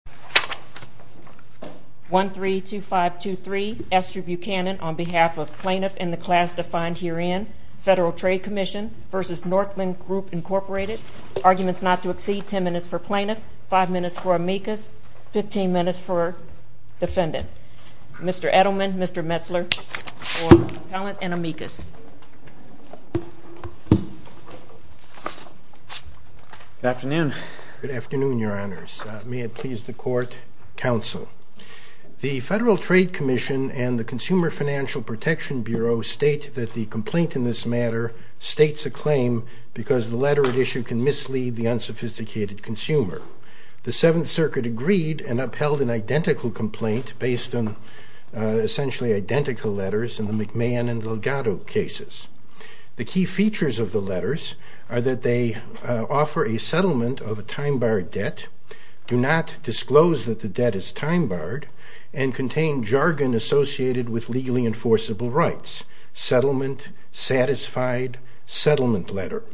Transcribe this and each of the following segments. Mr. Edelman, Mr. Metzler, for Pallant and Amicus. 1-3-2-5-2-3, Esther Buchanan on behalf of Plaintiff and the class defined herein, Federal Trade Commission v. Northland Group, Inc. Arguments not to exceed 10 minutes for Plaintiff, 5 minutes for Amicus, 15 minutes for Defendant. Mr. Edelman, Mr. Metzler for Pallant and Amicus. Good afternoon. Good afternoon, Your Honors. May it please the Court, Counsel. The Federal Trade Commission and the Consumer Financial Protection Bureau state that the complaint in this matter states a claim because the letter at issue can mislead the unsophisticated consumer. The Seventh Circuit agreed and upheld an identical complaint based on essentially identical letters in the McMahon and Delgado cases. The key features of the letters are that they offer a settlement of a time-barred debt, do not disclose that the debt is time-barred, and contain jargon associated with legally enforceable rights. Settlement, satisfied, settlement letter.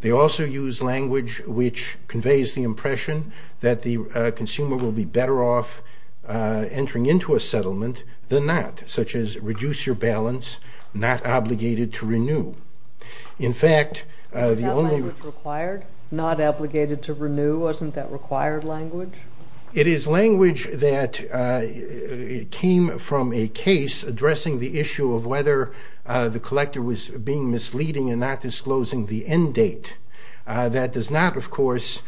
They also use language which conveys the impression that the consumer will be better off entering into a settlement than not, such as reduce your balance, not obligated to renew. In fact, the only... Is that language required, not obligated to renew? Wasn't that required language? It is language that came from a case addressing the issue of whether the collector was being misleading and not disclosing the end date. That does not, of course,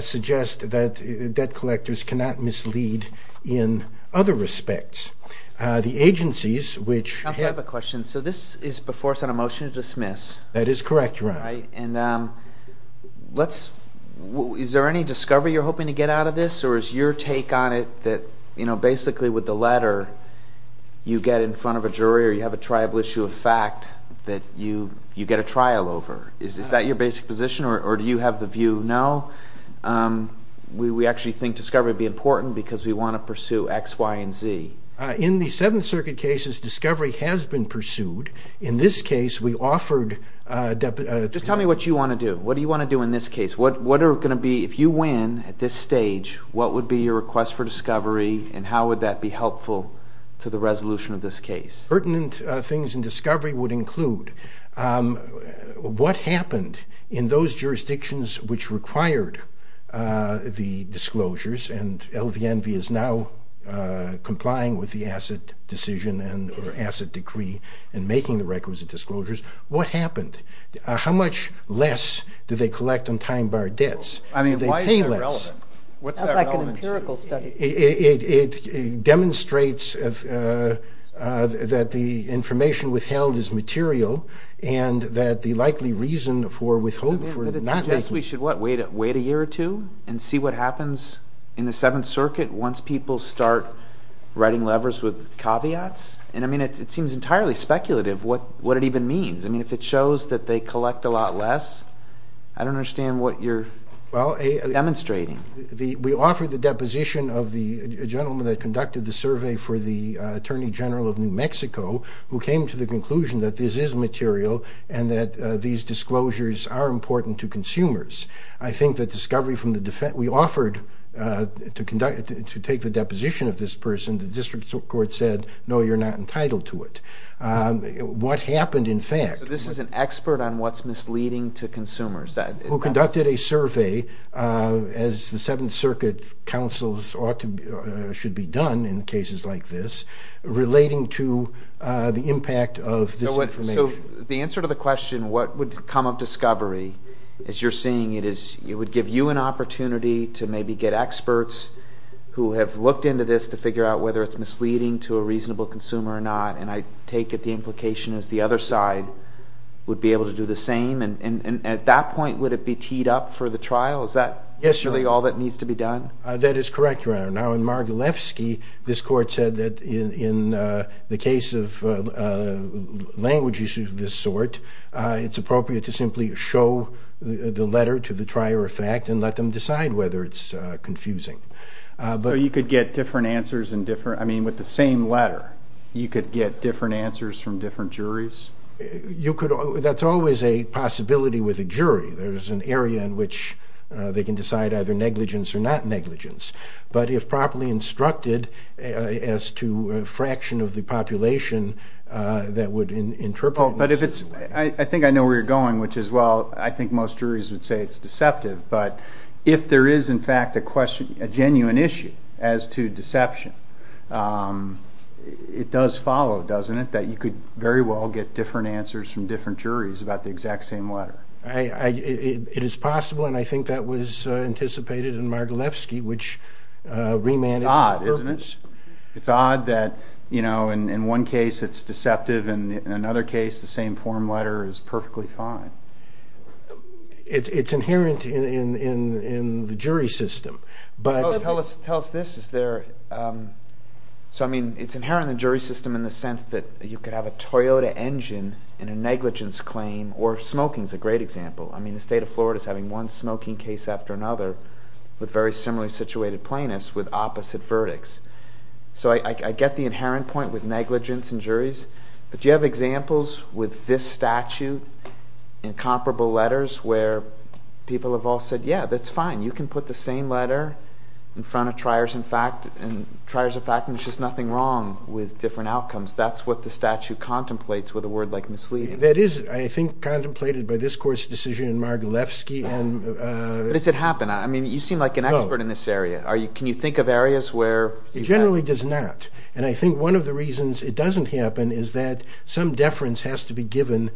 suggest that debt collectors cannot mislead in other respects. The agencies which... Counsel, I have a question. So this is before us on a motion to dismiss. That is correct, Your Honor. All right, and let's... Is there any discovery you're hoping to get out of this, or is your take on it that, you know, basically with the letter, you get in front of a jury or you have a tribal issue of fact that you get a trial over? Is that your basic position, or do you have the view, no, we actually think discovery would be important because we want to pursue X, Y, and Z? In the Seventh Circuit cases, discovery has been pursued. In this case, we offered... Just tell me what you want to do. What do you want to do in this case? What are going to be... If you win at this stage, what would be your request for discovery, and how would that be helpful to the resolution of this case? Pertinent things in discovery would include what happened in those jurisdictions which required the disclosures, and LVNV is now complying with the Asset Decree and making the requisite disclosures. What happened? How much less did they collect on time-barred debts? I mean, why is that relevant? What's that relevant to you? That's like an empirical study. It demonstrates that the information withheld is material and that the likely reason for withholding... But it suggests we should, what, wait a year or two and see what happens in the Seventh Circuit once people start writing levers with caveats? I mean, it seems entirely speculative what it even means. I mean, if it shows that they collect a lot less, I don't understand what you're demonstrating. We offered the deposition of the gentleman that conducted the survey for the Attorney General of New Mexico, who came to the conclusion that this is material and that these disclosures are important to consumers. I think that discovery from the defense... We offered to take the deposition of this person. The district court said, no, you're not entitled to it. What happened, in fact... So this is an expert on what's misleading to consumers. Who conducted a survey, as the Seventh Circuit counsels ought to, should be done in cases like this, relating to the impact of this information. So the answer to the question, what would come of discovery, as you're saying, it would give you an opportunity to maybe get experts who have looked into this to figure out whether it's misleading to a reasonable consumer or not. And I take it the implication is the other side would be able to do the same. And at that point, would it be teed up for the trial? Is that really all that needs to be done? That is correct, Your Honor. Now, in Margalefsky, this court said that in the case of languages of this sort, it's appropriate to simply show the letter to the trier of fact and let them decide whether it's confusing. So you could get different answers with the same letter? You could get different answers from different juries? That's always a possibility with a jury. There's an area in which they can decide either negligence or not negligence. But if properly instructed as to a fraction of the population that would interpret... I think I know where you're going, which is, well, I think most juries would say it's deceptive. But if there is, in fact, a genuine issue as to deception, it does follow, doesn't it, that you could very well get different answers from different juries about the exact same letter? It is possible, and I think that was anticipated in Margalefsky, which remanded the purpose. It's odd that, you know, in one case it's deceptive, and in another case the same form letter is perfectly fine. It's inherent in the jury system, but... Tell us this. Is there... So, I mean, it's inherent in the jury system in the sense that you could have a Toyota engine in a negligence claim, or smoking is a great example. I mean, the state of Florida is having one smoking case after another with very similarly situated plaintiffs with opposite verdicts. So I get the inherent point with negligence and juries, but do you have examples with this statute in comparable letters where people have all said, yeah, that's fine, you can put the same letter in front of triers of fact and there's just nothing wrong with different outcomes? That's what the statute contemplates with a word like misleading. That is, I think, contemplated by this Court's decision in Margalefsky. Does it happen? I mean, you seem like an expert in this area. Can you think of areas where... It generally does not, and I think one of the reasons it doesn't happen is that some deference has to be given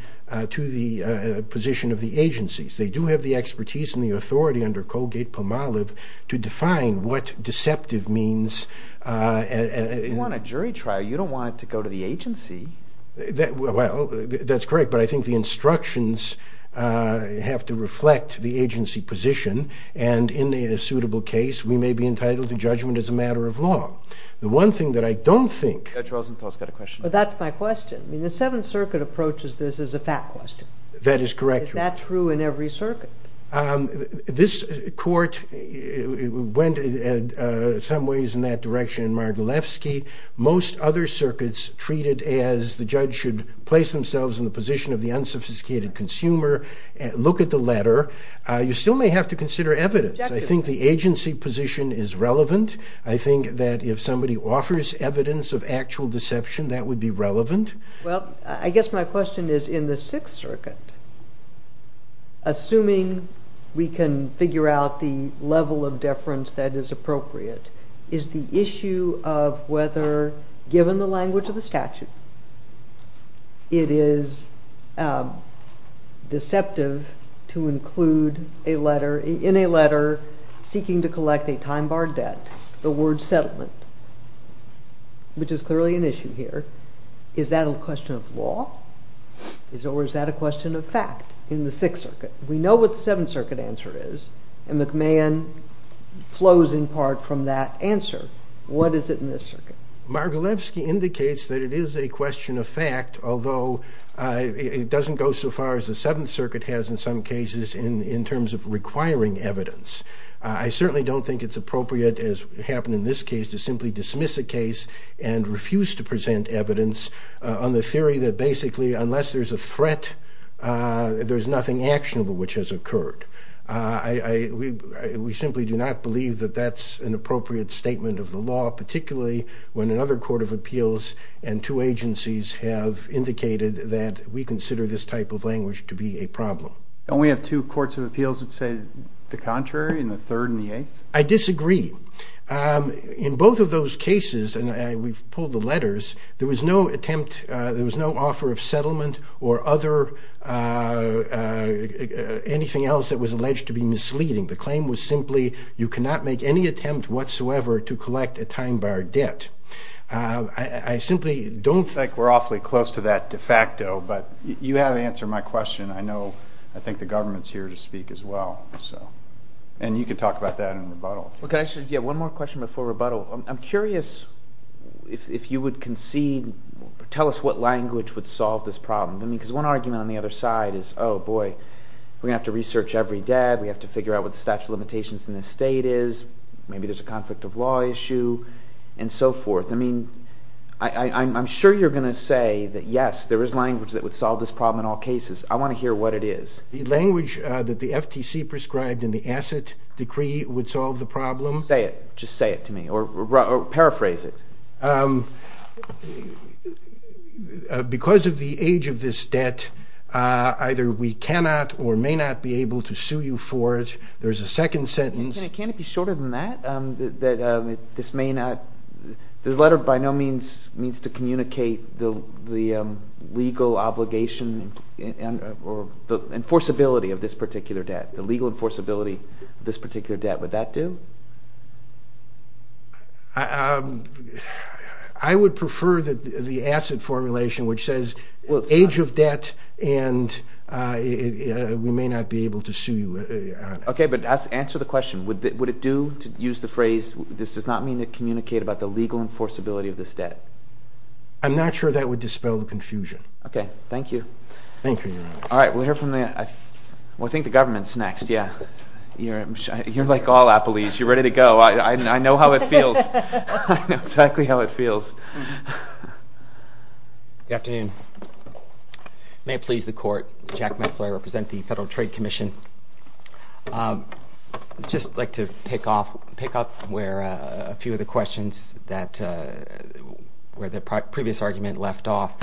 to the position of the agencies. They do have the expertise and the authority under Colgate-Pomalev to define what deceptive means. You want a jury trial. You don't want it to go to the agency. Well, that's correct, but I think the instructions have to reflect the agency position, and in a suitable case, we may be entitled to judgment as a matter of law. The one thing that I don't think... Judge Rosenthal's got a question. That's my question. I mean, the Seventh Circuit approaches this as a fact question. That is correct. Is that true in every circuit? This Court went in some ways in that direction in Margalefsky. Most other circuits treat it as the judge should place themselves in the position of the unsophisticated consumer, look at the letter. You still may have to consider evidence. I think the agency position is relevant. I think that if somebody offers evidence of actual deception, that would be relevant. Well, I guess my question is in the Sixth Circuit, assuming we can figure out the level of deference that is appropriate, is the issue of whether, given the language of the statute, it is deceptive to include in a letter seeking to collect a time-barred debt the word settlement, which is clearly an issue here. Is that a question of law, or is that a question of fact in the Sixth Circuit? We know what the Seventh Circuit answer is, and McMahon flows in part from that answer. What is it in this circuit? Margalefsky indicates that it is a question of fact, although it doesn't go so far as the Seventh Circuit has in some cases in terms of requiring evidence. I certainly don't think it's appropriate, as happened in this case, to simply dismiss a case and refuse to present evidence on the theory that, basically, unless there's a threat, there's nothing actionable which has occurred. We simply do not believe that that's an appropriate statement of the law, particularly when another court of appeals and two agencies have indicated that we consider this type of language to be a problem. And we have two courts of appeals that say the contrary, in the Third and the Eighth? I disagree. In both of those cases, and we've pulled the letters, there was no attempt, there was no offer of settlement or anything else that was alleged to be misleading. The claim was simply you cannot make any attempt whatsoever to collect a time-barred debt. I simply don't think we're awfully close to that de facto, but you have answered my question. I know – I think the government is here to speak as well. And you can talk about that in rebuttal. One more question before rebuttal. I'm curious if you would concede – tell us what language would solve this problem. Because one argument on the other side is, oh, boy, we're going to have to research every debt. We have to figure out what the statute of limitations in this state is. Maybe there's a conflict of law issue and so forth. I mean I'm sure you're going to say that, yes, there is language that would solve this problem in all cases. I want to hear what it is. The language that the FTC prescribed in the asset decree would solve the problem. Say it. Just say it to me or paraphrase it. Because of the age of this debt, either we cannot or may not be able to sue you for it. There's a second sentence. Can it be shorter than that? That this may not – the letter by no means needs to communicate the legal obligation or the enforceability of this particular debt. The legal enforceability of this particular debt. Would that do? I would prefer the asset formulation, which says age of debt and we may not be able to sue you. Okay, but answer the question. Would it do to use the phrase this does not mean to communicate about the legal enforceability of this debt? I'm not sure that would dispel the confusion. Okay. Thank you. Thank you, Your Honor. All right. We'll hear from the – well, I think the government's next, yeah. You're like all Applees. You're ready to go. I know exactly how it feels. Good afternoon. May it please the Court, Jack Metzler. I represent the Federal Trade Commission. I'd just like to pick off where a few of the questions that – where the previous argument left off.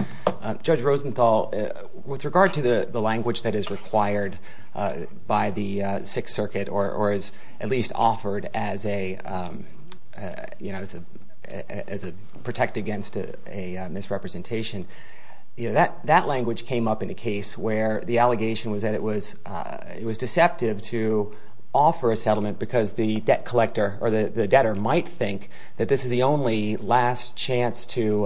Judge Rosenthal, with regard to the language that is required by the Sixth Circuit or is at least offered as a – you know, as a – protect against a misrepresentation, that language came up in a case where the allegation was that it was deceptive to offer a settlement because the debt collector or the debtor might think that this is the only last chance to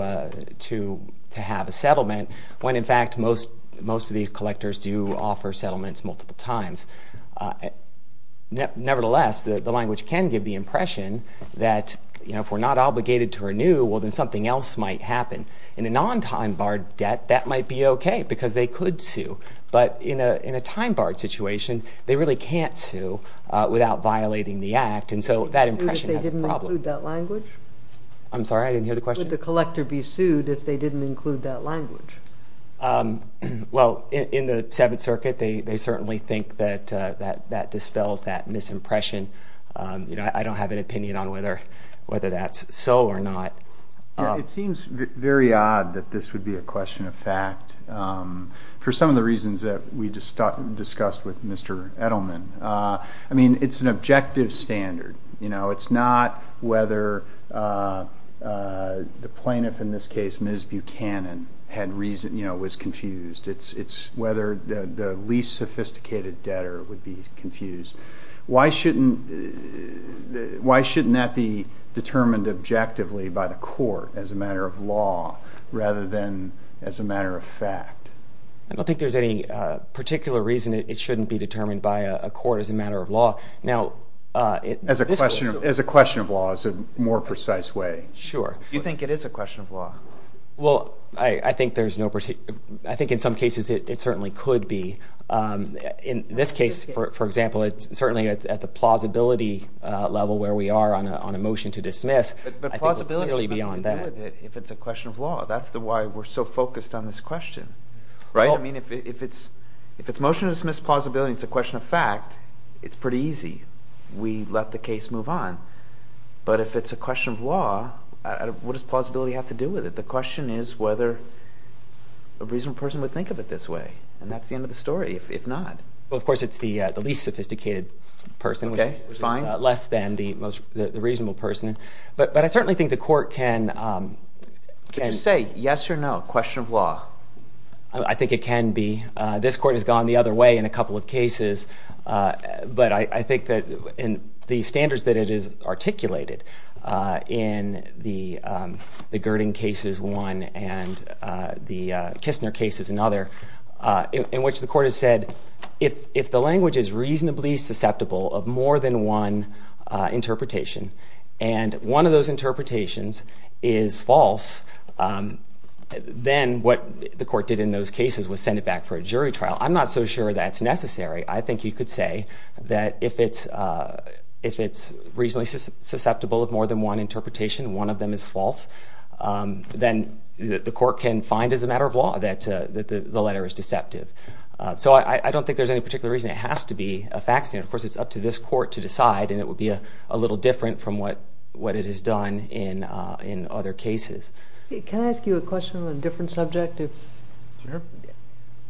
have a settlement when, in fact, most of these collectors do offer settlements multiple times. Nevertheless, the language can give the impression that, you know, if we're not obligated to renew, well, then something else might happen. In a non-time-barred debt, that might be okay because they could sue. But in a time-barred situation, they really can't sue without violating the act, and so that impression has a problem. Would they sue if they didn't include that language? I'm sorry, I didn't hear the question. Would the collector be sued if they didn't include that language? Well, in the Seventh Circuit, they certainly think that that dispels that misimpression. You know, I don't have an opinion on whether that's so or not. It seems very odd that this would be a question of fact. For some of the reasons that we discussed with Mr. Edelman, I mean, it's an objective standard. You know, it's not whether the plaintiff, in this case, Ms. Buchanan, had reason, you know, was confused. It's whether the least sophisticated debtor would be confused. Why shouldn't that be determined objectively by the court as a matter of law rather than as a matter of fact? I don't think there's any particular reason it shouldn't be determined by a court as a matter of law. As a question of law is a more precise way. Sure. Do you think it is a question of law? Well, I think in some cases it certainly could be. In this case, for example, it's certainly at the plausibility level where we are on a motion to dismiss. But plausibility has nothing to do with it if it's a question of law. That's why we're so focused on this question, right? I mean, if it's motion to dismiss plausibility and it's a question of fact, it's pretty easy. We let the case move on. But if it's a question of law, what does plausibility have to do with it? The question is whether a reasonable person would think of it this way. And that's the end of the story, if not. Well, of course, it's the least sophisticated person, which is less than the reasonable person. But I certainly think the court can... Would you say yes or no, question of law? I think it can be. This court has gone the other way in a couple of cases. But I think that in the standards that it has articulated in the Gurdon cases one and the Kistner cases another, in which the court has said if the language is reasonably susceptible of more than one interpretation and one of those interpretations is false, then what the court did in those cases was send it back for a jury trial. I'm not so sure that's necessary. I think you could say that if it's reasonably susceptible of more than one interpretation and one of them is false, then the court can find as a matter of law that the letter is deceptive. So I don't think there's any particular reason. It has to be a facts standard. Of course, it's up to this court to decide, and it would be a little different from what it has done in other cases. Can I ask you a question on a different subject? Sure.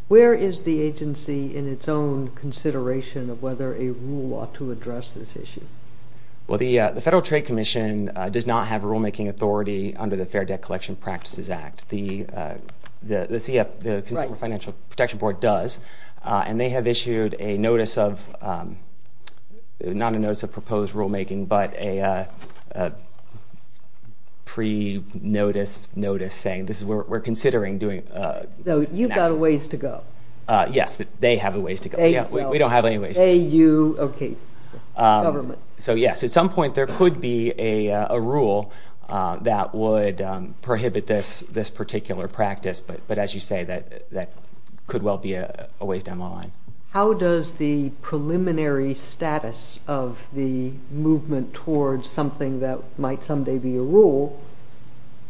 Where is the agency in its own consideration of whether a rule ought to address this issue? Well, the Federal Trade Commission does not have rulemaking authority under the Fair Debt Collection Practices Act. The CF, the Consumer Financial Protection Board does, and they have issued a notice of, not a notice of proposed rulemaking, but a pre-notice notice saying this is what we're considering doing. So you've got a ways to go. Yes, they have a ways to go. We don't have any ways to go. They, you, okay, government. So yes, at some point there could be a rule that would prohibit this particular practice, but as you say, that could well be a ways down the line. How does the preliminary status of the movement towards something that might someday be a rule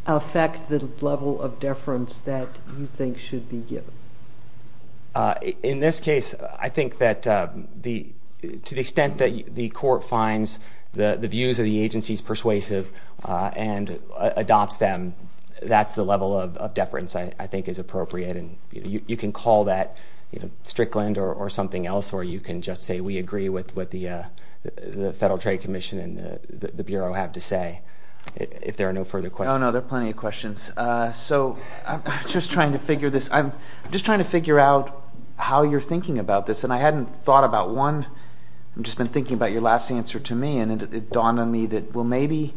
affect the level of deference that you think should be given? In this case, I think that to the extent that the court finds the views of the agencies persuasive and adopts them, that's the level of deference I think is appropriate, and you can call that Strickland or something else, or you can just say we agree with what the Federal Trade Commission and the Bureau have to say. If there are no further questions. Oh, no, there are plenty of questions. So I'm just trying to figure this. I'm just trying to figure out how you're thinking about this, and I hadn't thought about one. I've just been thinking about your last answer to me, and it dawned on me that, well, maybe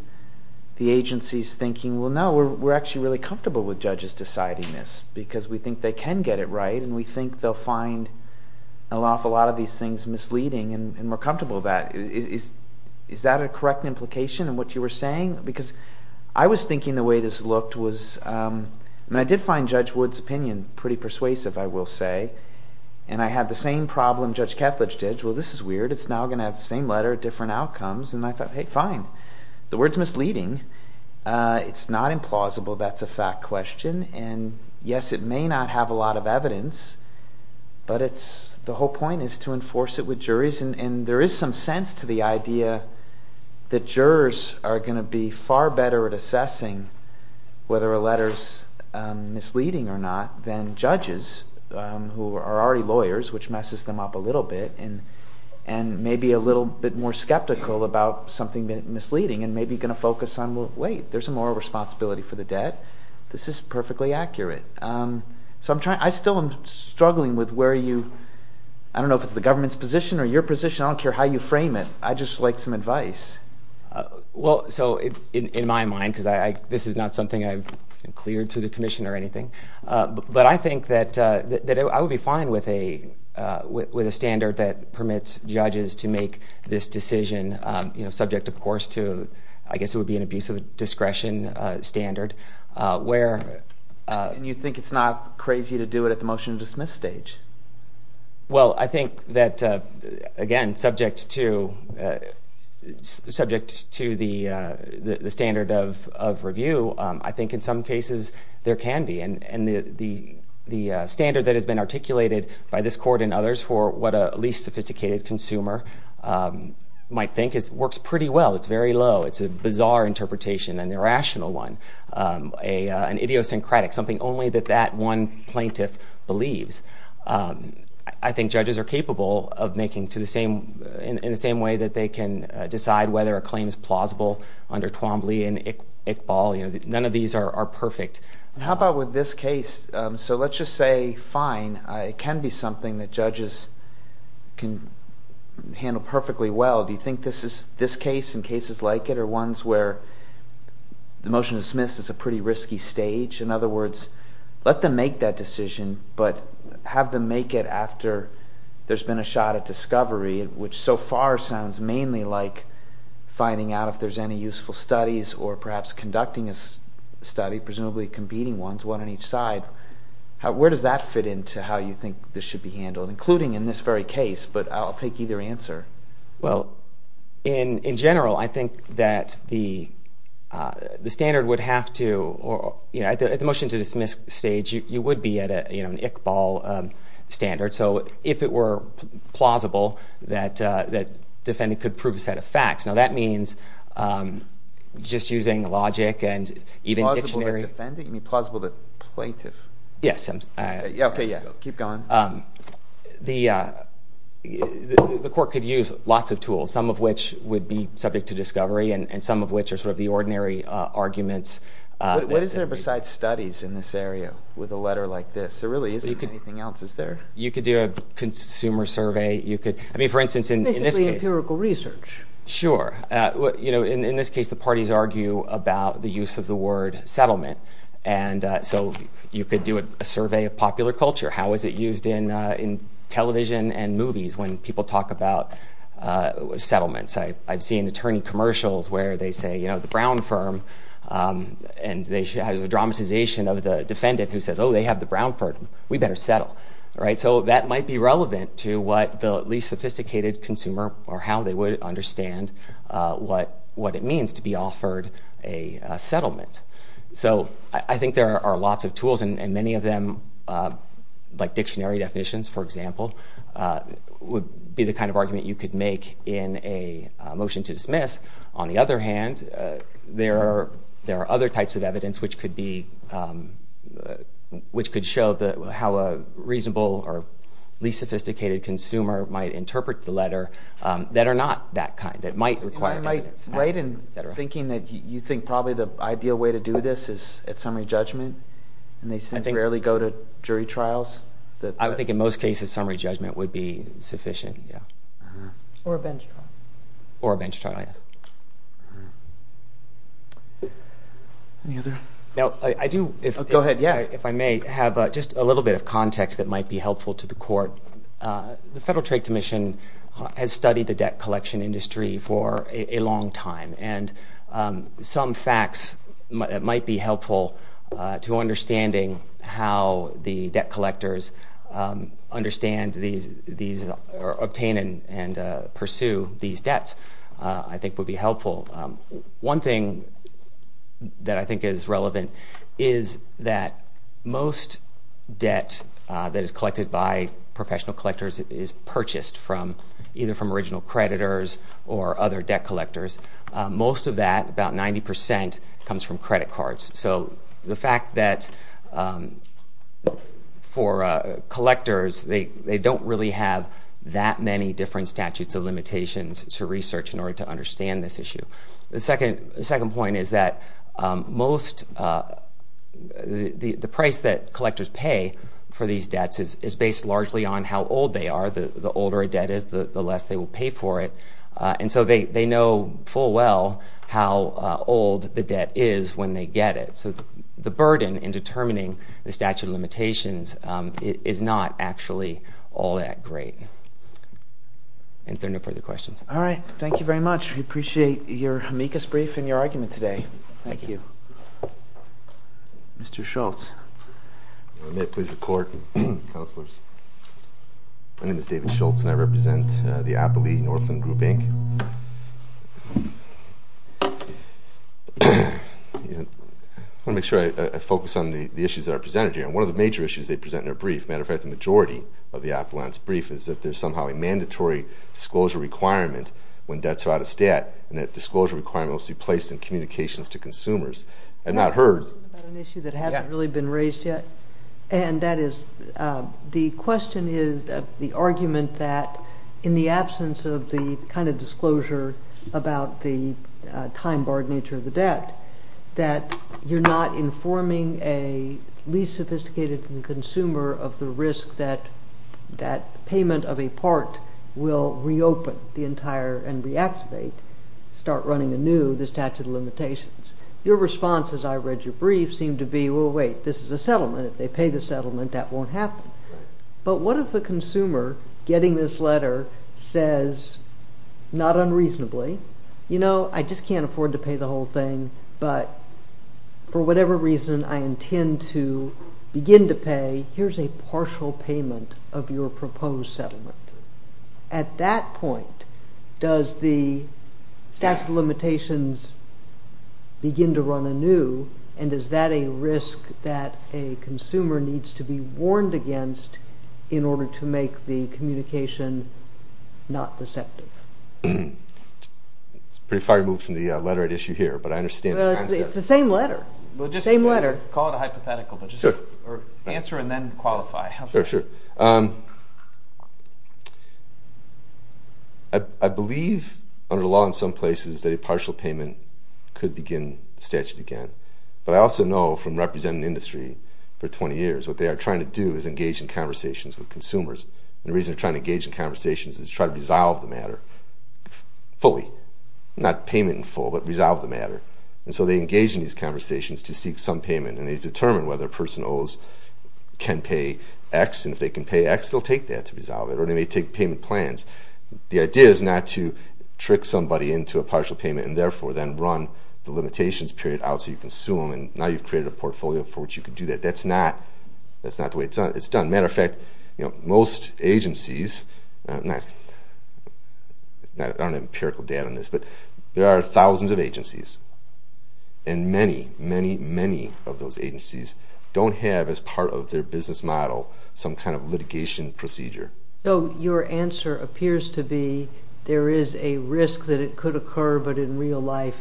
the agency is thinking, well, no, we're actually really comfortable with judges deciding this because we think they can get it right, and we think they'll find an awful lot of these things misleading, and we're comfortable with that. Is that a correct implication in what you were saying? Because I was thinking the way this looked was, and I did find Judge Wood's opinion pretty persuasive, I will say, and I had the same problem Judge Ketledge did. Well, this is weird. It's now going to have the same letter, different outcomes, and I thought, hey, fine. The word is misleading. It's not implausible. That's a fact question, and yes, it may not have a lot of evidence, but the whole point is to enforce it with juries, and there is some sense to the idea that jurors are going to be far better at assessing whether a letter is misleading or not than judges who are already lawyers, which messes them up a little bit and may be a little bit more skeptical about something misleading and may be going to focus on, well, wait, there's a moral responsibility for the debt. This is perfectly accurate. So I still am struggling with where you, I don't know if it's the government's position or your position. I don't care how you frame it. I'd just like some advice. Well, so in my mind, because this is not something I've cleared to the commission or anything, but I think that I would be fine with a standard that permits judges to make this decision, subject, of course, to I guess it would be an abuse of discretion standard where And you think it's not crazy to do it at the motion-to-dismiss stage? Well, I think that, again, subject to the standard of review, I think in some cases there can be, and the standard that has been articulated by this court and others for what a least sophisticated consumer might think works pretty well. It's very low. It's a bizarre interpretation, an irrational one, an idiosyncratic, something only that that one plaintiff believes. I think judges are capable of making, in the same way that they can decide whether a claim is plausible under Twombly and Iqbal, none of these are perfect. How about with this case? So let's just say, fine, it can be something that judges can handle perfectly well. Do you think this case and cases like it are ones where the motion-to-dismiss is a pretty risky stage? In other words, let them make that decision, but have them make it after there's been a shot at discovery, which so far sounds mainly like finding out if there's any useful studies or perhaps conducting a study, presumably competing ones, one on each side. Where does that fit into how you think this should be handled, including in this very case? But I'll take either answer. Well, in general, I think that the standard would have to, at the motion-to-dismiss stage, you would be at an Iqbal standard. So if it were plausible, that defendant could prove a set of facts. Now that means just using logic and even dictionary. Plausible to defendant? You mean plausible to plaintiff? Yes. Okay, yeah. Keep going. The court could use lots of tools, some of which would be subject to discovery and some of which are sort of the ordinary arguments. What is there besides studies in this area with a letter like this? There really isn't anything else, is there? You could do a consumer survey. You could, I mean, for instance, in this case. Basically empirical research. Sure. You know, in this case, the parties argue about the use of the word settlement. And so you could do a survey of popular culture. How is it used in television and movies when people talk about settlements? I've seen attorney commercials where they say, you know, the Brown firm. And there's a dramatization of the defendant who says, oh, they have the Brown firm. We better settle. So that might be relevant to what the least sophisticated consumer or how they would understand what it means to be offered a settlement. So I think there are lots of tools, and many of them, like dictionary definitions, for example, would be the kind of argument you could make in a motion to dismiss. On the other hand, there are other types of evidence which could show how a reasonable or least sophisticated consumer might interpret the letter that are not that kind, that might require evidence. Right. And thinking that you think probably the ideal way to do this is at summary judgment. And they seem to rarely go to jury trials. I think in most cases summary judgment would be sufficient, yeah. Or a bench trial. Or a bench trial, yes. Now, I do, if I may, have just a little bit of context that might be helpful to the court. The Federal Trade Commission has studied the debt collection industry for a long time. And some facts might be helpful to understanding how the debt collectors understand these or obtain and pursue these debts I think would be helpful. One thing that I think is relevant is that most debt that is collected by professional collectors is purchased from either from original creditors or other debt collectors. Most of that, about 90 percent, comes from credit cards. So the fact that for collectors, they don't really have that many different statutes of limitations to research in order to understand this issue. The second point is that most, the price that collectors pay for these debts is based largely on how old they are. The older a debt is, the less they will pay for it. And so they know full well how old the debt is when they get it. So the burden in determining the statute of limitations is not actually all that great. And if there are no further questions. All right. Thank you very much. We appreciate your amicus brief and your argument today. Thank you. Mr. Schultz. May it please the court and counselors. My name is David Schultz, and I represent the Appalachian Northland Group, Inc. I want to make sure I focus on the issues that are presented here. And one of the major issues they present in their brief, as a matter of fact, the majority of the Appalachian's brief, is that there's somehow a mandatory disclosure requirement when debts are out of stat, and that disclosure requirement must be placed in communications to consumers. I've not heard. I have a question about an issue that hasn't really been raised yet. And that is the question is the argument that in the absence of the kind of disclosure about the time-barred nature of the debt, that you're not informing a least sophisticated consumer of the risk that that payment of a part will reopen the entire and reactivate, start running anew, the statute of limitations. Your response, as I read your brief, seemed to be, well, wait. This is a settlement. If they pay the settlement, that won't happen. But what if a consumer getting this letter says, not unreasonably, you know, I just can't afford to pay the whole thing, but for whatever reason I intend to begin to pay, here's a partial payment of your proposed settlement. At that point, does the statute of limitations begin to run anew, and is that a risk that a consumer needs to be warned against in order to make the communication not deceptive? It's pretty far removed from the letter I'd issue here, but I understand the concept. It's the same letter. Same letter. Call it a hypothetical, but just answer and then qualify. Sure, sure. I believe under the law in some places that a partial payment could begin the statute again. But I also know from representing the industry for 20 years, what they are trying to do is engage in conversations with consumers. And the reason they're trying to engage in conversations is to try to resolve the matter fully, not payment in full, but resolve the matter. And so they engage in these conversations to seek some payment, and they determine whether person O's can pay X, and if they can pay X, they'll take that to resolve it, or they may take payment plans. The idea is not to trick somebody into a partial payment and therefore then run the limitations period out so you can sue them, and now you've created a portfolio for which you can do that. That's not the way it's done. As a matter of fact, most agencies, and I don't have empirical data on this, but there are thousands of agencies, and many, many, many of those agencies don't have as part of their business model some kind of litigation procedure. So your answer appears to be there is a risk that it could occur, but in real life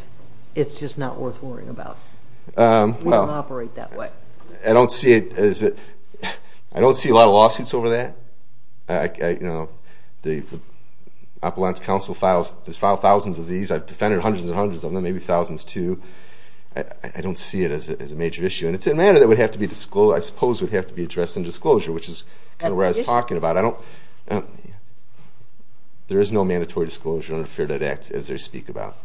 it's just not worth worrying about. We don't operate that way. I don't see a lot of lawsuits over that. The Appalachian Council files thousands of these. I've defended hundreds and hundreds of them, maybe thousands, too. I don't see it as a major issue. And it's a matter that I suppose would have to be addressed in disclosure, which is kind of what I was talking about. There is no mandatory disclosure under the Fair Debt Act, as they speak about.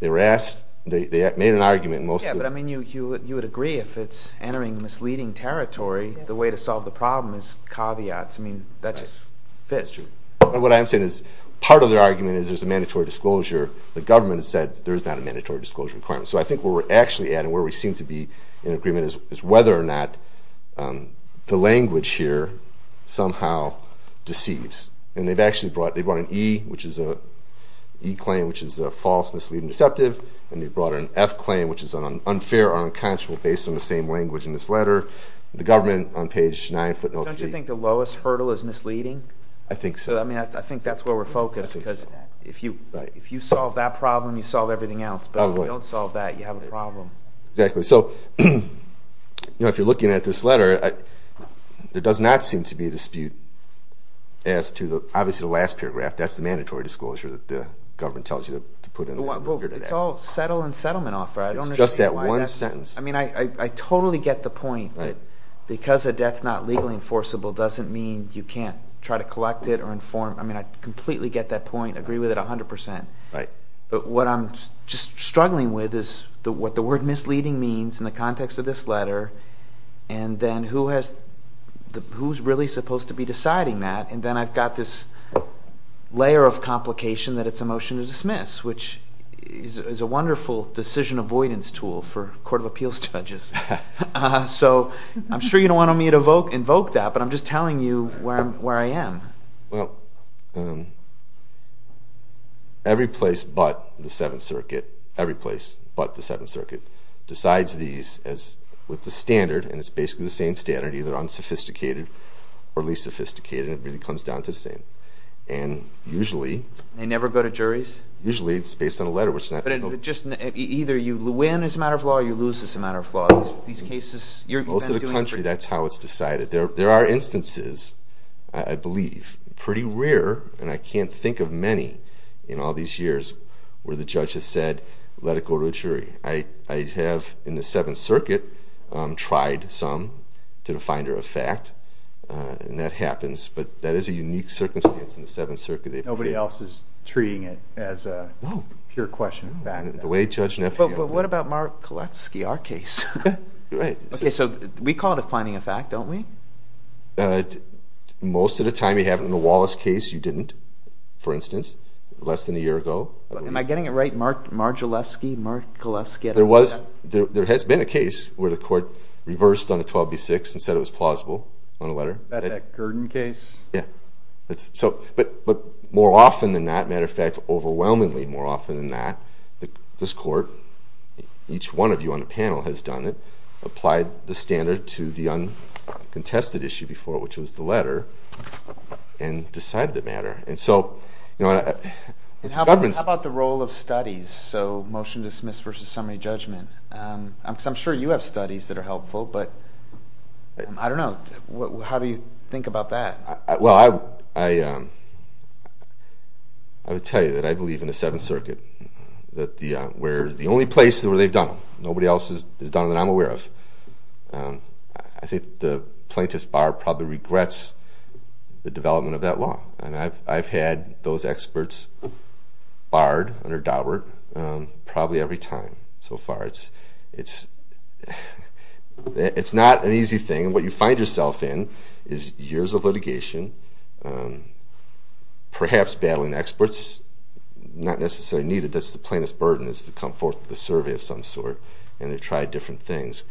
They were asked. They made an argument. Yeah, but I mean you would agree if it's entering misleading territory, the way to solve the problem is caveats. I mean, that just fits. That's true. And what I'm saying is part of their argument is there's a mandatory disclosure. The government has said there is not a mandatory disclosure requirement. So I think where we're actually at and where we seem to be in agreement is whether or not the language here somehow deceives. And they've actually brought an E, which is an E claim, which is a false, misleading, deceptive. And they've brought an F claim, which is unfair or unconscionable based on the same language in this letter. The government, on page 9, footnote 3. Don't you think the lowest hurdle is misleading? I think so. I mean, I think that's where we're focused. Because if you solve that problem, you solve everything else. But if you don't solve that, you have a problem. Exactly. So, you know, if you're looking at this letter, there does not seem to be a dispute as to the – obviously the last paragraph, that's the mandatory disclosure that the government tells you to put in the Fair Debt Act. It's all settle and settlement offer. I don't understand why that's – It's just that one sentence. I mean, I totally get the point that because a debt's not legally enforceable doesn't mean you can't try to collect it or inform – I mean, I completely get that point, agree with it 100 percent. Right. But what I'm just struggling with is what the word misleading means in the context of this letter. And then who has – who's really supposed to be deciding that? And then I've got this layer of complication that it's a motion to dismiss, which is a wonderful decision avoidance tool for court of appeals judges. So I'm sure you don't want me to invoke that, but I'm just telling you where I am. Well, every place but the Seventh Circuit – every place but the Seventh Circuit decides these as – with the standard, and it's basically the same standard, either unsophisticated or least sophisticated, and it really comes down to the same. And usually – They never go to juries? Usually it's based on a letter, which is not – But just – either you win as a matter of law or you lose as a matter of law. These cases – you've been doing – Most of the country, that's how it's decided. There are instances, I believe, pretty rare, and I can't think of many, in all these years where the judge has said, let it go to a jury. I have, in the Seventh Circuit, tried some to the finder of fact, and that happens. But that is a unique circumstance in the Seventh Circuit. Nobody else is treating it as a pure question of fact. The way Judge Neffi – But what about Mark Galefsky, our case? You're right. Okay, so we call it a finding of fact, don't we? Most of the time you have it in the Wallace case. You didn't, for instance, less than a year ago. Am I getting it right? Mark Margilefsky, Mark Galefsky – There was – there has been a case where the court reversed on a 12B6 and said it was plausible on a letter. Is that that Gurdon case? Yeah. But more often than not, as a matter of fact, overwhelmingly more often than not, this court, each one of you on the panel has done it, applied the standard to the uncontested issue before it, which was the letter, and decided the matter. And so the government's – How about the role of studies? So motion to dismiss versus summary judgment. I'm sure you have studies that are helpful, but I don't know. How do you think about that? Well, I would tell you that I believe in the Seventh Circuit. We're the only place where they've done it. Nobody else has done it that I'm aware of. I think the plaintiff's bar probably regrets the development of that law, and I've had those experts barred under Daubert probably every time so far. It's not an easy thing. And what you find yourself in is years of litigation, perhaps battling experts not necessarily needed. That's the plaintiff's burden is to come forth with a survey of some sort, and they try different things.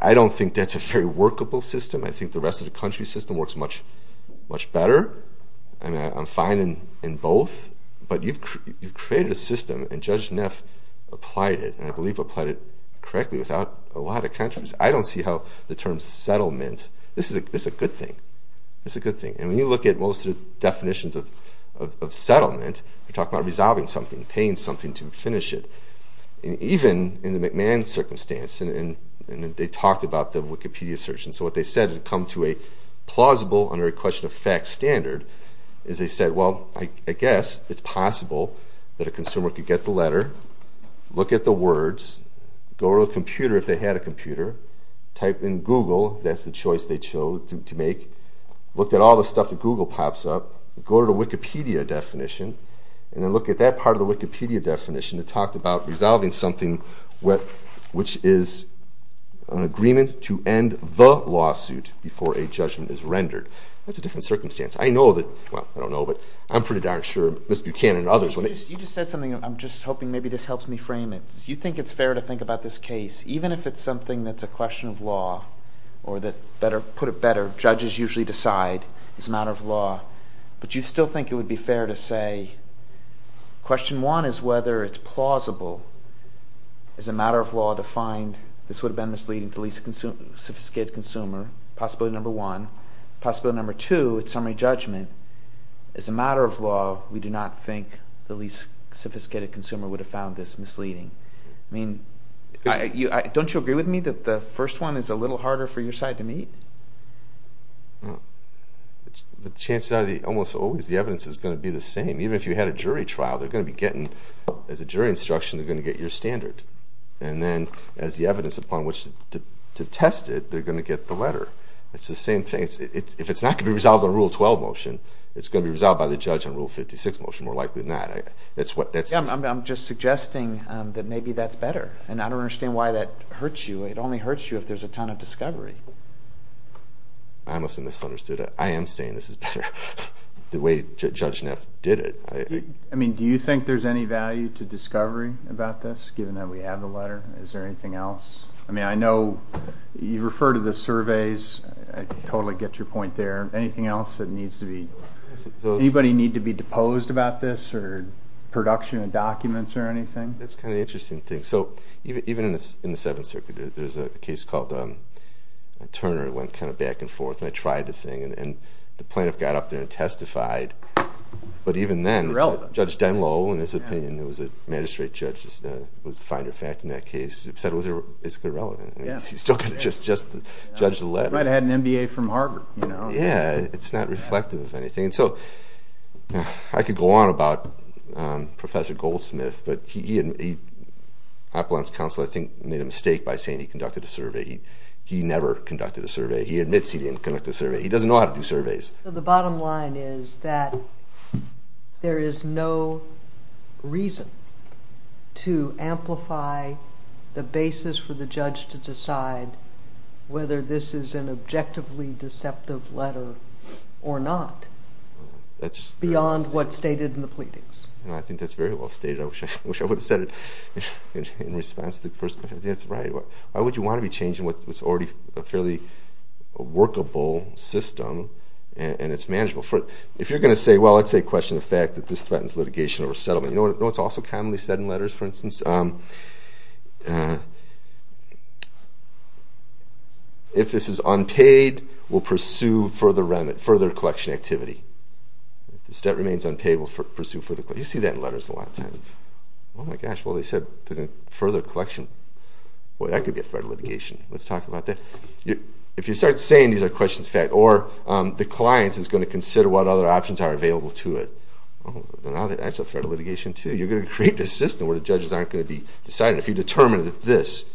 I don't think that's a very workable system. I think the rest of the country system works much better. I'm fine in both. But you've created a system, and Judge Neff applied it, and I believe applied it correctly without a lot of countries. I don't see how the term settlement. This is a good thing. It's a good thing. And when you look at most of the definitions of settlement, you're talking about resolving something, paying something to finish it. And even in the McMahon circumstance, and they talked about the Wikipedia search, and so what they said had come to a plausible, under a question-of-facts standard, is they said, well, I guess it's possible that a consumer could get the letter, look at the words, go to a computer if they had a computer, type in Google, that's the choice they chose to make, look at all the stuff that Google pops up, go to the Wikipedia definition, and then look at that part of the Wikipedia definition that talked about resolving something which is an agreement to end the lawsuit before a judgment is rendered. That's a different circumstance. I know that, well, I don't know, but I'm pretty darn sure Ms. Buchanan and others. You just said something. I'm just hoping maybe this helps me frame it. You think it's fair to think about this case, even if it's something that's a question of law or that, put it better, judges usually decide it's a matter of law, but you still think it would be fair to say, question one is whether it's plausible as a matter of law to find this would have been misleading to the least sophisticated consumer, possibility number one. Possibility number two, it's summary judgment. As a matter of law, we do not think the least sophisticated consumer would have found this misleading. Don't you agree with me that the first one is a little harder for your side to meet? The chances are almost always the evidence is going to be the same. Even if you had a jury trial, they're going to be getting, as a jury instruction, they're going to get your standard. And then as the evidence upon which to test it, they're going to get the letter. It's the same thing. If it's not going to be resolved on Rule 12 motion, it's going to be resolved by the judge on Rule 56 motion, more likely than not. I'm just suggesting that maybe that's better, and I don't understand why that hurts you. It only hurts you if there's a ton of discovery. I must have misunderstood it. I am saying this is better the way Judge Neff did it. I mean, do you think there's any value to discovery about this, given that we have the letter? Is there anything else? I mean, I know you refer to the surveys. I totally get your point there. Anything else that needs to be—anybody need to be deposed about this or production of documents or anything? That's kind of the interesting thing. So even in the Seventh Circuit, there's a case called Turner. It went kind of back and forth, and I tried the thing, and the plaintiff got up there and testified. But even then, Judge Denlow, in his opinion, who was a magistrate judge, was the finder of fact in that case. He said it was irrelevant. He's still going to just judge the letter. He might have had an MBA from Harvard, you know. Yeah, it's not reflective of anything. So I could go on about Professor Goldsmith, but he—Apollon's counsel, I think, made a mistake by saying he conducted a survey. He never conducted a survey. He admits he didn't conduct a survey. He doesn't know how to do surveys. The bottom line is that there is no reason to amplify the basis for the judge to decide whether this is an objectively deceptive letter or not beyond what's stated in the pleadings. I think that's very well stated. I wish I would have said it in response to the first question. That's right. Why would you want to be changing what's already a fairly workable system and it's manageable? If you're going to say, well, let's say, question the fact that this threatens litigation or settlement. You know what's also commonly said in letters, for instance? If this is unpaid, we'll pursue further collection activity. If the stat remains unpaid, we'll pursue further collection activity. You see that in letters a lot of times. Oh, my gosh, well, they said further collection. Boy, that could be a threat to litigation. Let's talk about that. If you start saying these are questions of fact or the client is going to consider what other options are available to it, that's a threat to litigation, too. You're going to create this system where the judges aren't going to be deciding. If you determine that this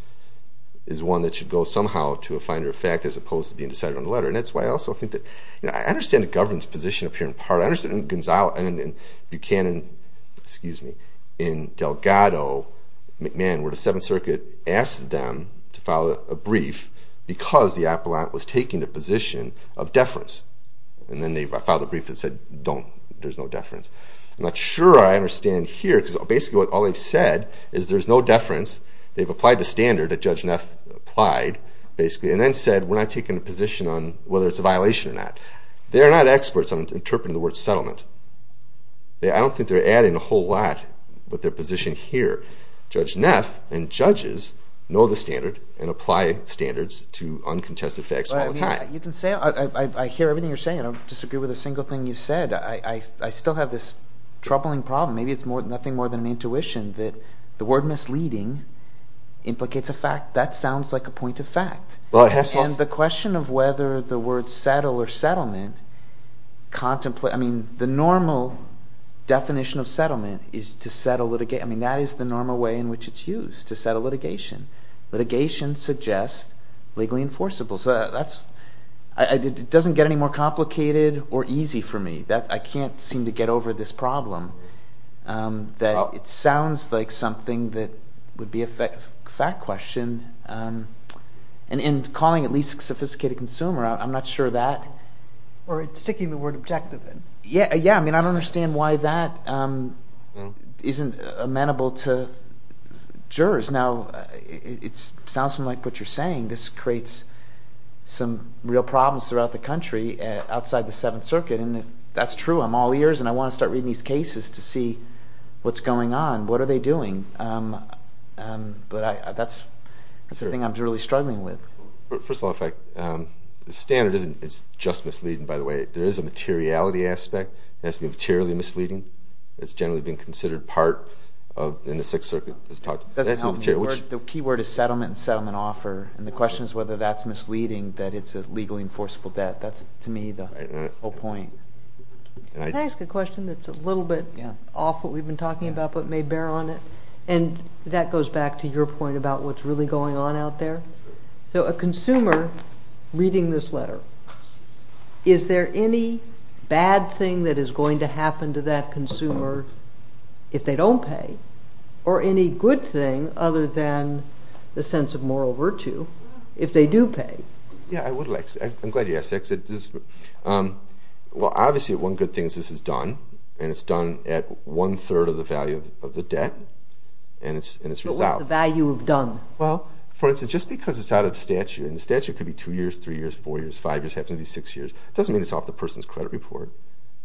is one that should go somehow to a finder of fact as opposed to being decided on a letter. And that's why I also think that I understand the government's position up here in part. I understand in Buchanan, in Delgado, McMahon, where the Seventh Circuit asked them to file a brief because the appellant was taking the position of deference. And then they filed a brief that said, don't, there's no deference. I'm not sure I understand here, because basically all they've said is there's no deference. They've applied the standard that Judge Neff applied, basically, and then said we're not taking a position on whether it's a violation or not. They're not experts on interpreting the word settlement. I don't think they're adding a whole lot with their position here. Judge Neff and judges know the standard and apply standards to uncontested facts all the time. You can say, I hear everything you're saying. I don't disagree with a single thing you said. I still have this troubling problem. Maybe it's nothing more than an intuition that the word misleading implicates a fact. That sounds like a point of fact. And the question of whether the word settle or settlement contemplates, I mean, the normal definition of settlement is to settle litigation. I mean that is the normal way in which it's used, to settle litigation. Litigation suggests legally enforceable. So that's, it doesn't get any more complicated or easy for me. I can't seem to get over this problem that it sounds like something that would be a fact question. And in calling it least sophisticated consumer, I'm not sure that. Or sticking the word objective in. Yeah, I mean I don't understand why that isn't amenable to jurors. Now, it sounds to me like what you're saying. This creates some real problems throughout the country outside the Seventh Circuit. And if that's true, I'm all ears and I want to start reading these cases to see what's going on. What are they doing? But that's the thing I'm really struggling with. First of all, the standard isn't just misleading, by the way. There is a materiality aspect that's materially misleading. It's generally been considered part in the Sixth Circuit. The key word is settlement and settlement offer. And the question is whether that's misleading that it's a legally enforceable debt. That's to me the whole point. Can I ask a question that's a little bit off what we've been talking about but may bear on it? And that goes back to your point about what's really going on out there. So a consumer reading this letter, is there any bad thing that is going to happen to that consumer if they don't pay? Or any good thing other than the sense of moral virtue if they do pay? Yeah, I'm glad you asked that. Well, obviously one good thing is this is done. And it's done at one-third of the value of the debt. But what's the value of done? Well, for instance, just because it's out of statute, and the statute could be two years, three years, four years, five years, it happens to be six years, doesn't mean it's off the person's credit report.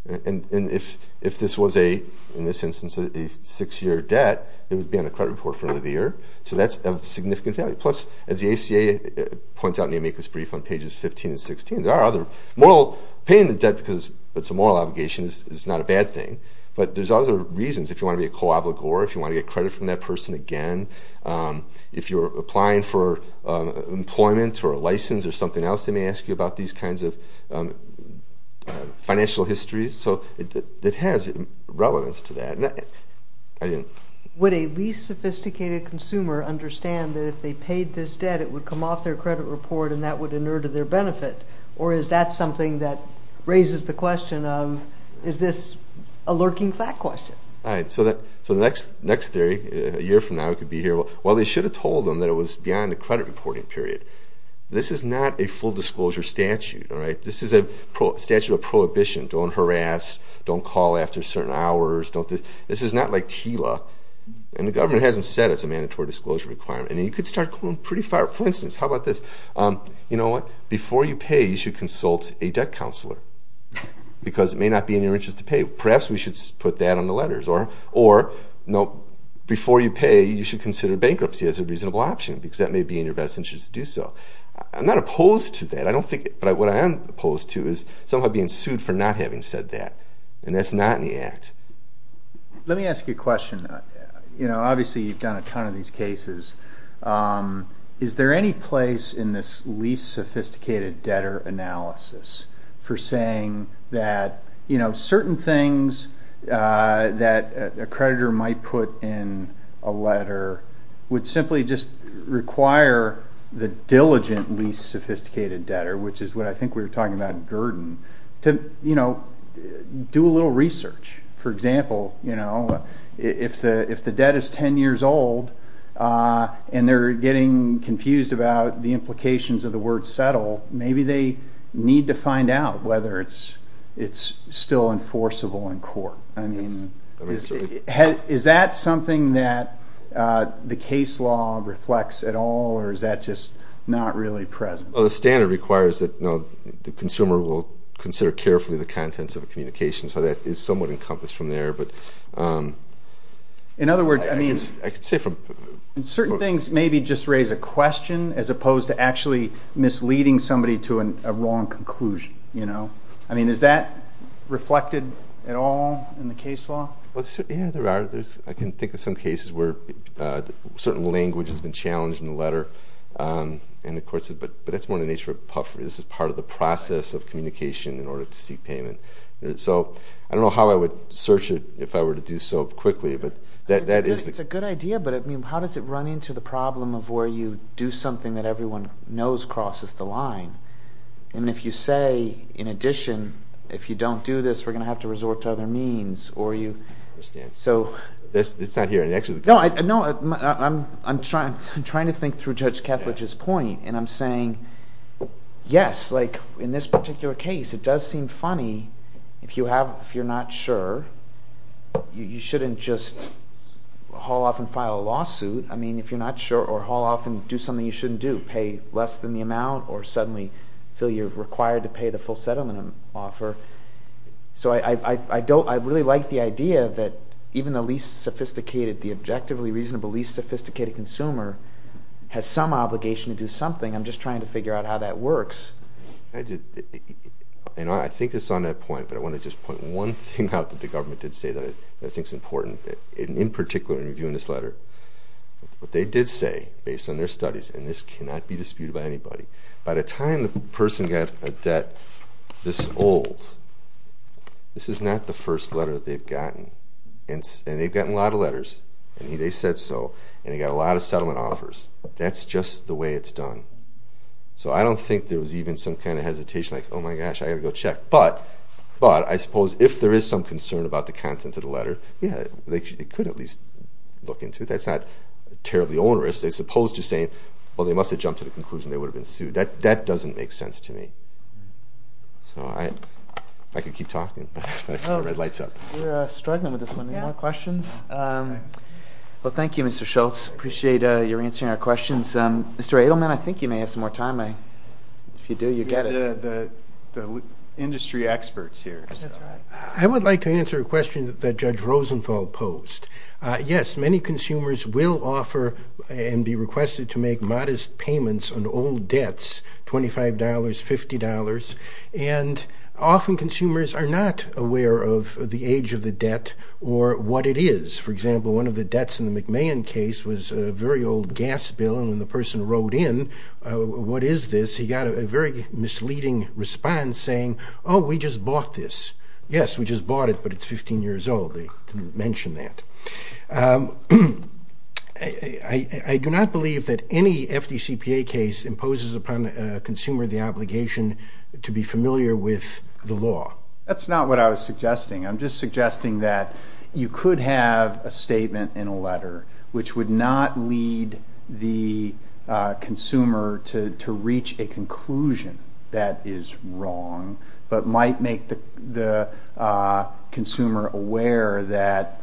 And if this was, in this instance, a six-year debt, it would be on the credit report for the end of the year. So that's of significant value. Plus, as the ACA points out in the amicus brief on pages 15 and 16, there are other moral – paying the debt because it's a moral obligation is not a bad thing. But there's other reasons. If you want to be a co-obligor, if you want to get credit from that person again, if you're applying for employment or a license or something else, they may ask you about these kinds of financial histories. So it has relevance to that. Would a least sophisticated consumer understand that if they paid this debt, it would come off their credit report and that would inure to their benefit? Or is that something that raises the question of, is this a lurking fact question? All right. So the next theory, a year from now, it could be here. Well, they should have told them that it was beyond the credit reporting period. This is not a full-disclosure statute, all right? This is a statute of prohibition. Don't harass. Don't call after certain hours. This is not like TILA. And the government hasn't said it's a mandatory disclosure requirement. And you could start going pretty far. For instance, how about this? You know what? Before you pay, you should consult a debt counselor because it may not be in your interest to pay. Perhaps we should put that on the letters. Or, no, before you pay, you should consider bankruptcy as a reasonable option because that may be in your best interest to do so. I'm not opposed to that. But what I am opposed to is somehow being sued for not having said that. And that's not in the Act. Let me ask you a question. You know, obviously you've done a ton of these cases. Is there any place in this least sophisticated debtor analysis for saying that, you know, which is what I think we were talking about in Gurdon, to, you know, do a little research? For example, you know, if the debt is 10 years old and they're getting confused about the implications of the word settle, maybe they need to find out whether it's still enforceable in court. I mean, is that something that the case law reflects at all, or is that just not really present? Well, the standard requires that the consumer will consider carefully the contents of a communication, so that is somewhat encompassed from there. In other words, I mean, certain things maybe just raise a question as opposed to actually misleading somebody to a wrong conclusion, you know? I mean, is that reflected at all in the case law? Yeah, there are. I can think of some cases where certain language has been challenged in the letter, but that's more the nature of puffery. This is part of the process of communication in order to seek payment. So I don't know how I would search it if I were to do so quickly. It's a good idea, but, I mean, how does it run into the problem of where you do something that everyone knows crosses the line? And if you say, in addition, if you don't do this, we're going to have to resort to other means, or you... I understand. So... It's not here. No, I'm trying to think through Judge Ketledge's point, and I'm saying, yes, like in this particular case, it does seem funny if you're not sure. You shouldn't just haul off and file a lawsuit. I mean, if you're not sure, or haul off and do something you shouldn't do, you pay less than the amount or suddenly feel you're required to pay the full settlement offer. So I really like the idea that even the least sophisticated, the objectively reasonable least sophisticated consumer, has some obligation to do something. I'm just trying to figure out how that works. I think it's on that point, but I want to just point one thing out that the government did say that I think is important, in particular in reviewing this letter. What they did say, based on their studies, and this cannot be disputed by anybody, by the time the person got a debt this old, this is not the first letter that they've gotten. And they've gotten a lot of letters, and they said so, and they got a lot of settlement offers. That's just the way it's done. So I don't think there was even some kind of hesitation, like, oh my gosh, I've got to go check. But I suppose if there is some concern about the content of the letter, yeah, they could at least look into it. That's not terribly onerous. They're supposed to say, well, they must have jumped to the conclusion they would have been sued. That doesn't make sense to me. So I could keep talking, but I see the red lights up. We're struggling with this one. Any more questions? Well, thank you, Mr. Schultz. Appreciate your answering our questions. Mr. Adelman, I think you may have some more time. If you do, you get it. We've got the industry experts here. That's right. I would like to answer a question that Judge Rosenthal posed. Yes, many consumers will offer and be requested to make modest payments on old debts, $25, $50. And often consumers are not aware of the age of the debt or what it is. For example, one of the debts in the McMahon case was a very old gas bill, and when the person wrote in, what is this? He got a very misleading response saying, oh, we just bought this. Yes, we just bought it, but it's 15 years old. They didn't mention that. I do not believe that any FDCPA case imposes upon a consumer the obligation to be familiar with the law. That's not what I was suggesting. I'm just suggesting that you could have a statement in a letter which would not lead the consumer to reach a conclusion that is wrong but might make the consumer aware that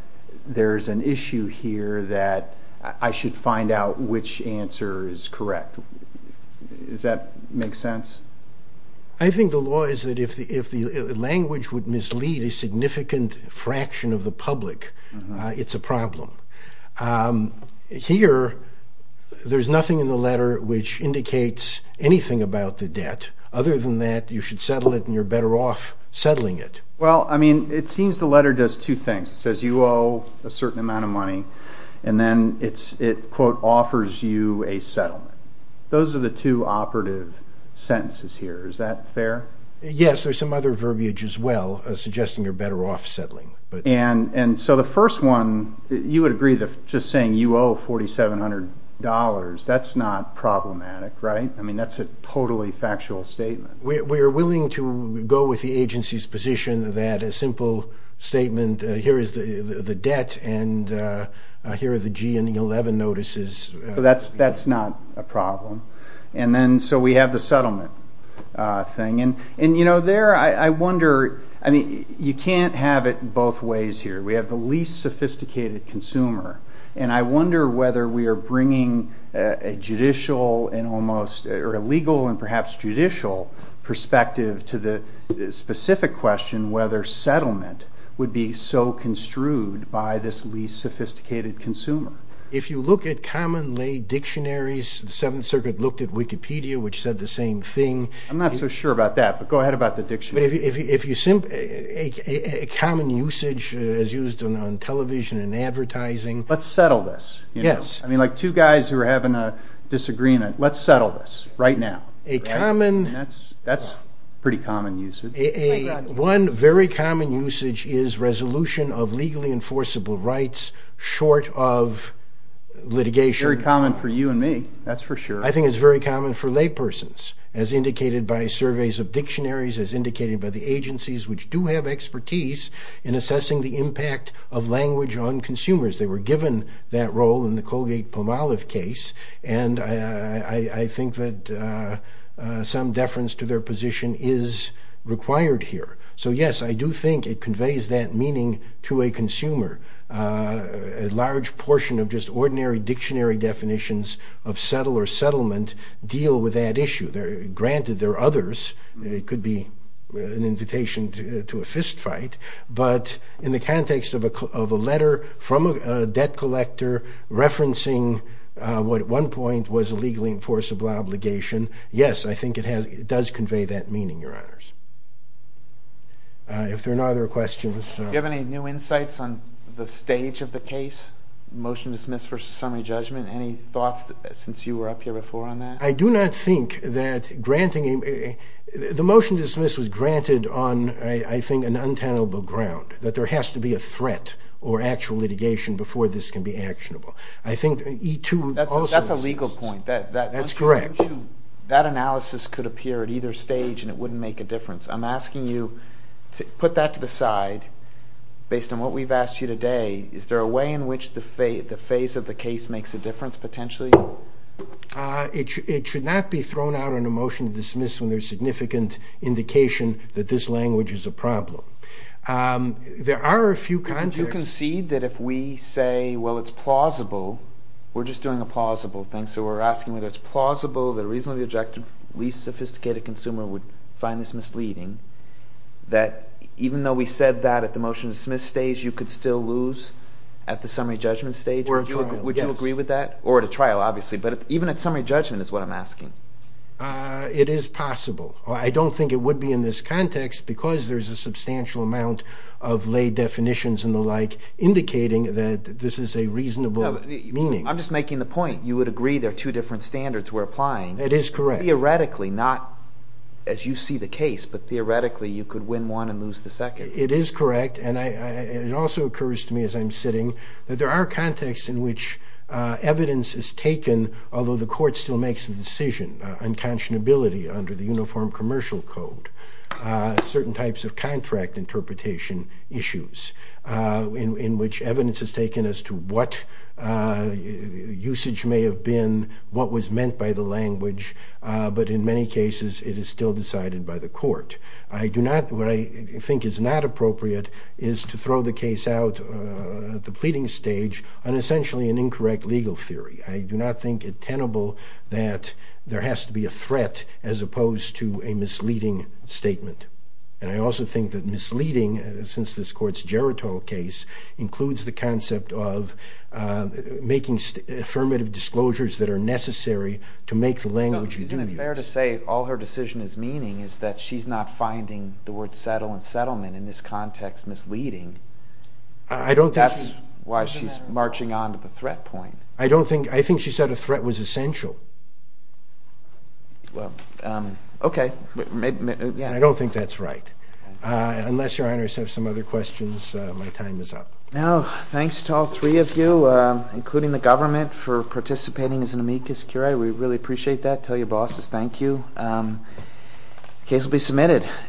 there is an issue here, that I should find out which answer is correct. Does that make sense? I think the law is that if the language would mislead a significant fraction of the public, it's a problem. Here, there's nothing in the letter which indicates anything about the debt, other than that you should settle it and you're better off settling it. Well, I mean, it seems the letter does two things. It says you owe a certain amount of money, and then it, quote, offers you a settlement. Those are the two operative sentences here. Is that fair? Yes, there's some other verbiage as well suggesting you're better off settling. And so the first one, you would agree that just saying you owe $4,700, that's not problematic, right? I mean, that's a totally factual statement. We are willing to go with the agency's position that a simple statement, here is the debt and here are the G and the 11 notices. That's not a problem. And then so we have the settlement thing. And, you know, there I wonder, I mean, you can't have it both ways here. We have the least sophisticated consumer, and I wonder whether we are bringing a judicial and almost, or a legal and perhaps judicial perspective to the specific question whether settlement would be so construed by this least sophisticated consumer. If you look at common lay dictionaries, the Seventh Circuit looked at Wikipedia, which said the same thing. I'm not so sure about that, but go ahead about the dictionary. A common usage as used on television and advertising. Let's settle this. Yes. I mean, like two guys who are having a disagreement, let's settle this right now. That's a pretty common usage. One very common usage is resolution of legally enforceable rights short of litigation. Very common for you and me, that's for sure. I think it's very common for laypersons, as indicated by surveys of dictionaries, as indicated by the agencies which do have expertise in assessing the impact of language on consumers. They were given that role in the Colgate-Pomalev case, and I think that some deference to their position is required here. So, yes, I do think it conveys that meaning to a consumer. A large portion of just ordinary dictionary definitions of settle or settlement deal with that issue. Granted, there are others. It could be an invitation to a fist fight, but in the context of a letter from a debt collector referencing what at one point was a legally enforceable obligation, yes, I think it does convey that meaning, Your Honors. If there are no other questions. Do you have any new insights on the stage of the case, motion to dismiss versus summary judgment? Any thoughts since you were up here before on that? I do not think that granting a motion to dismiss was granted on, I think, an untenable ground, that there has to be a threat or actual litigation before this can be actionable. That's a legal point. That's correct. That analysis could appear at either stage and it wouldn't make a difference. I'm asking you to put that to the side based on what we've asked you today. Is there a way in which the phase of the case makes a difference potentially? It should not be thrown out on a motion to dismiss when there's significant indication that this language is a problem. There are a few contexts... If you concede that if we say, well, it's plausible, we're just doing a plausible thing, so we're asking whether it's plausible that a reasonably objective, least sophisticated consumer would find this misleading, that even though we said that at the motion to dismiss stage you could still lose at the summary judgment stage? Would you agree with that? Or at a trial, obviously. But even at summary judgment is what I'm asking. It is possible. I don't think it would be in this context because there's a substantial amount of lay definitions and the like indicating that this is a reasonable meaning. I'm just making the point. You would agree there are two different standards we're applying. It is correct. Theoretically, not as you see the case, but theoretically you could win one and lose the second. It is correct, and it also occurs to me as I'm sitting, that there are contexts in which evidence is taken, although the court still makes the decision, unconscionability under the Uniform Commercial Code, certain types of contract interpretation issues in which evidence is taken as to what usage may have been, what was meant by the language, but in many cases it is still decided by the court. What I think is not appropriate is to throw the case out at the pleading stage on essentially an incorrect legal theory. I do not think it tenable that there has to be a threat as opposed to a misleading statement. And I also think that misleading, since this Court's geritol case, includes the concept of making affirmative disclosures that are necessary to make the language you do use. Is it fair to say all her decision is meaning is that she's not finding the word settle and settlement in this context misleading? I don't think... That's why she's marching on to the threat point. I don't think... I think she said a threat was essential. Well, OK. I don't think that's right. Unless Your Honor has some other questions, my time is up. Now, thanks to all three of you, including the government, for participating as an amicus curiae. We really appreciate that. Tell your bosses thank you. Case will be submitted.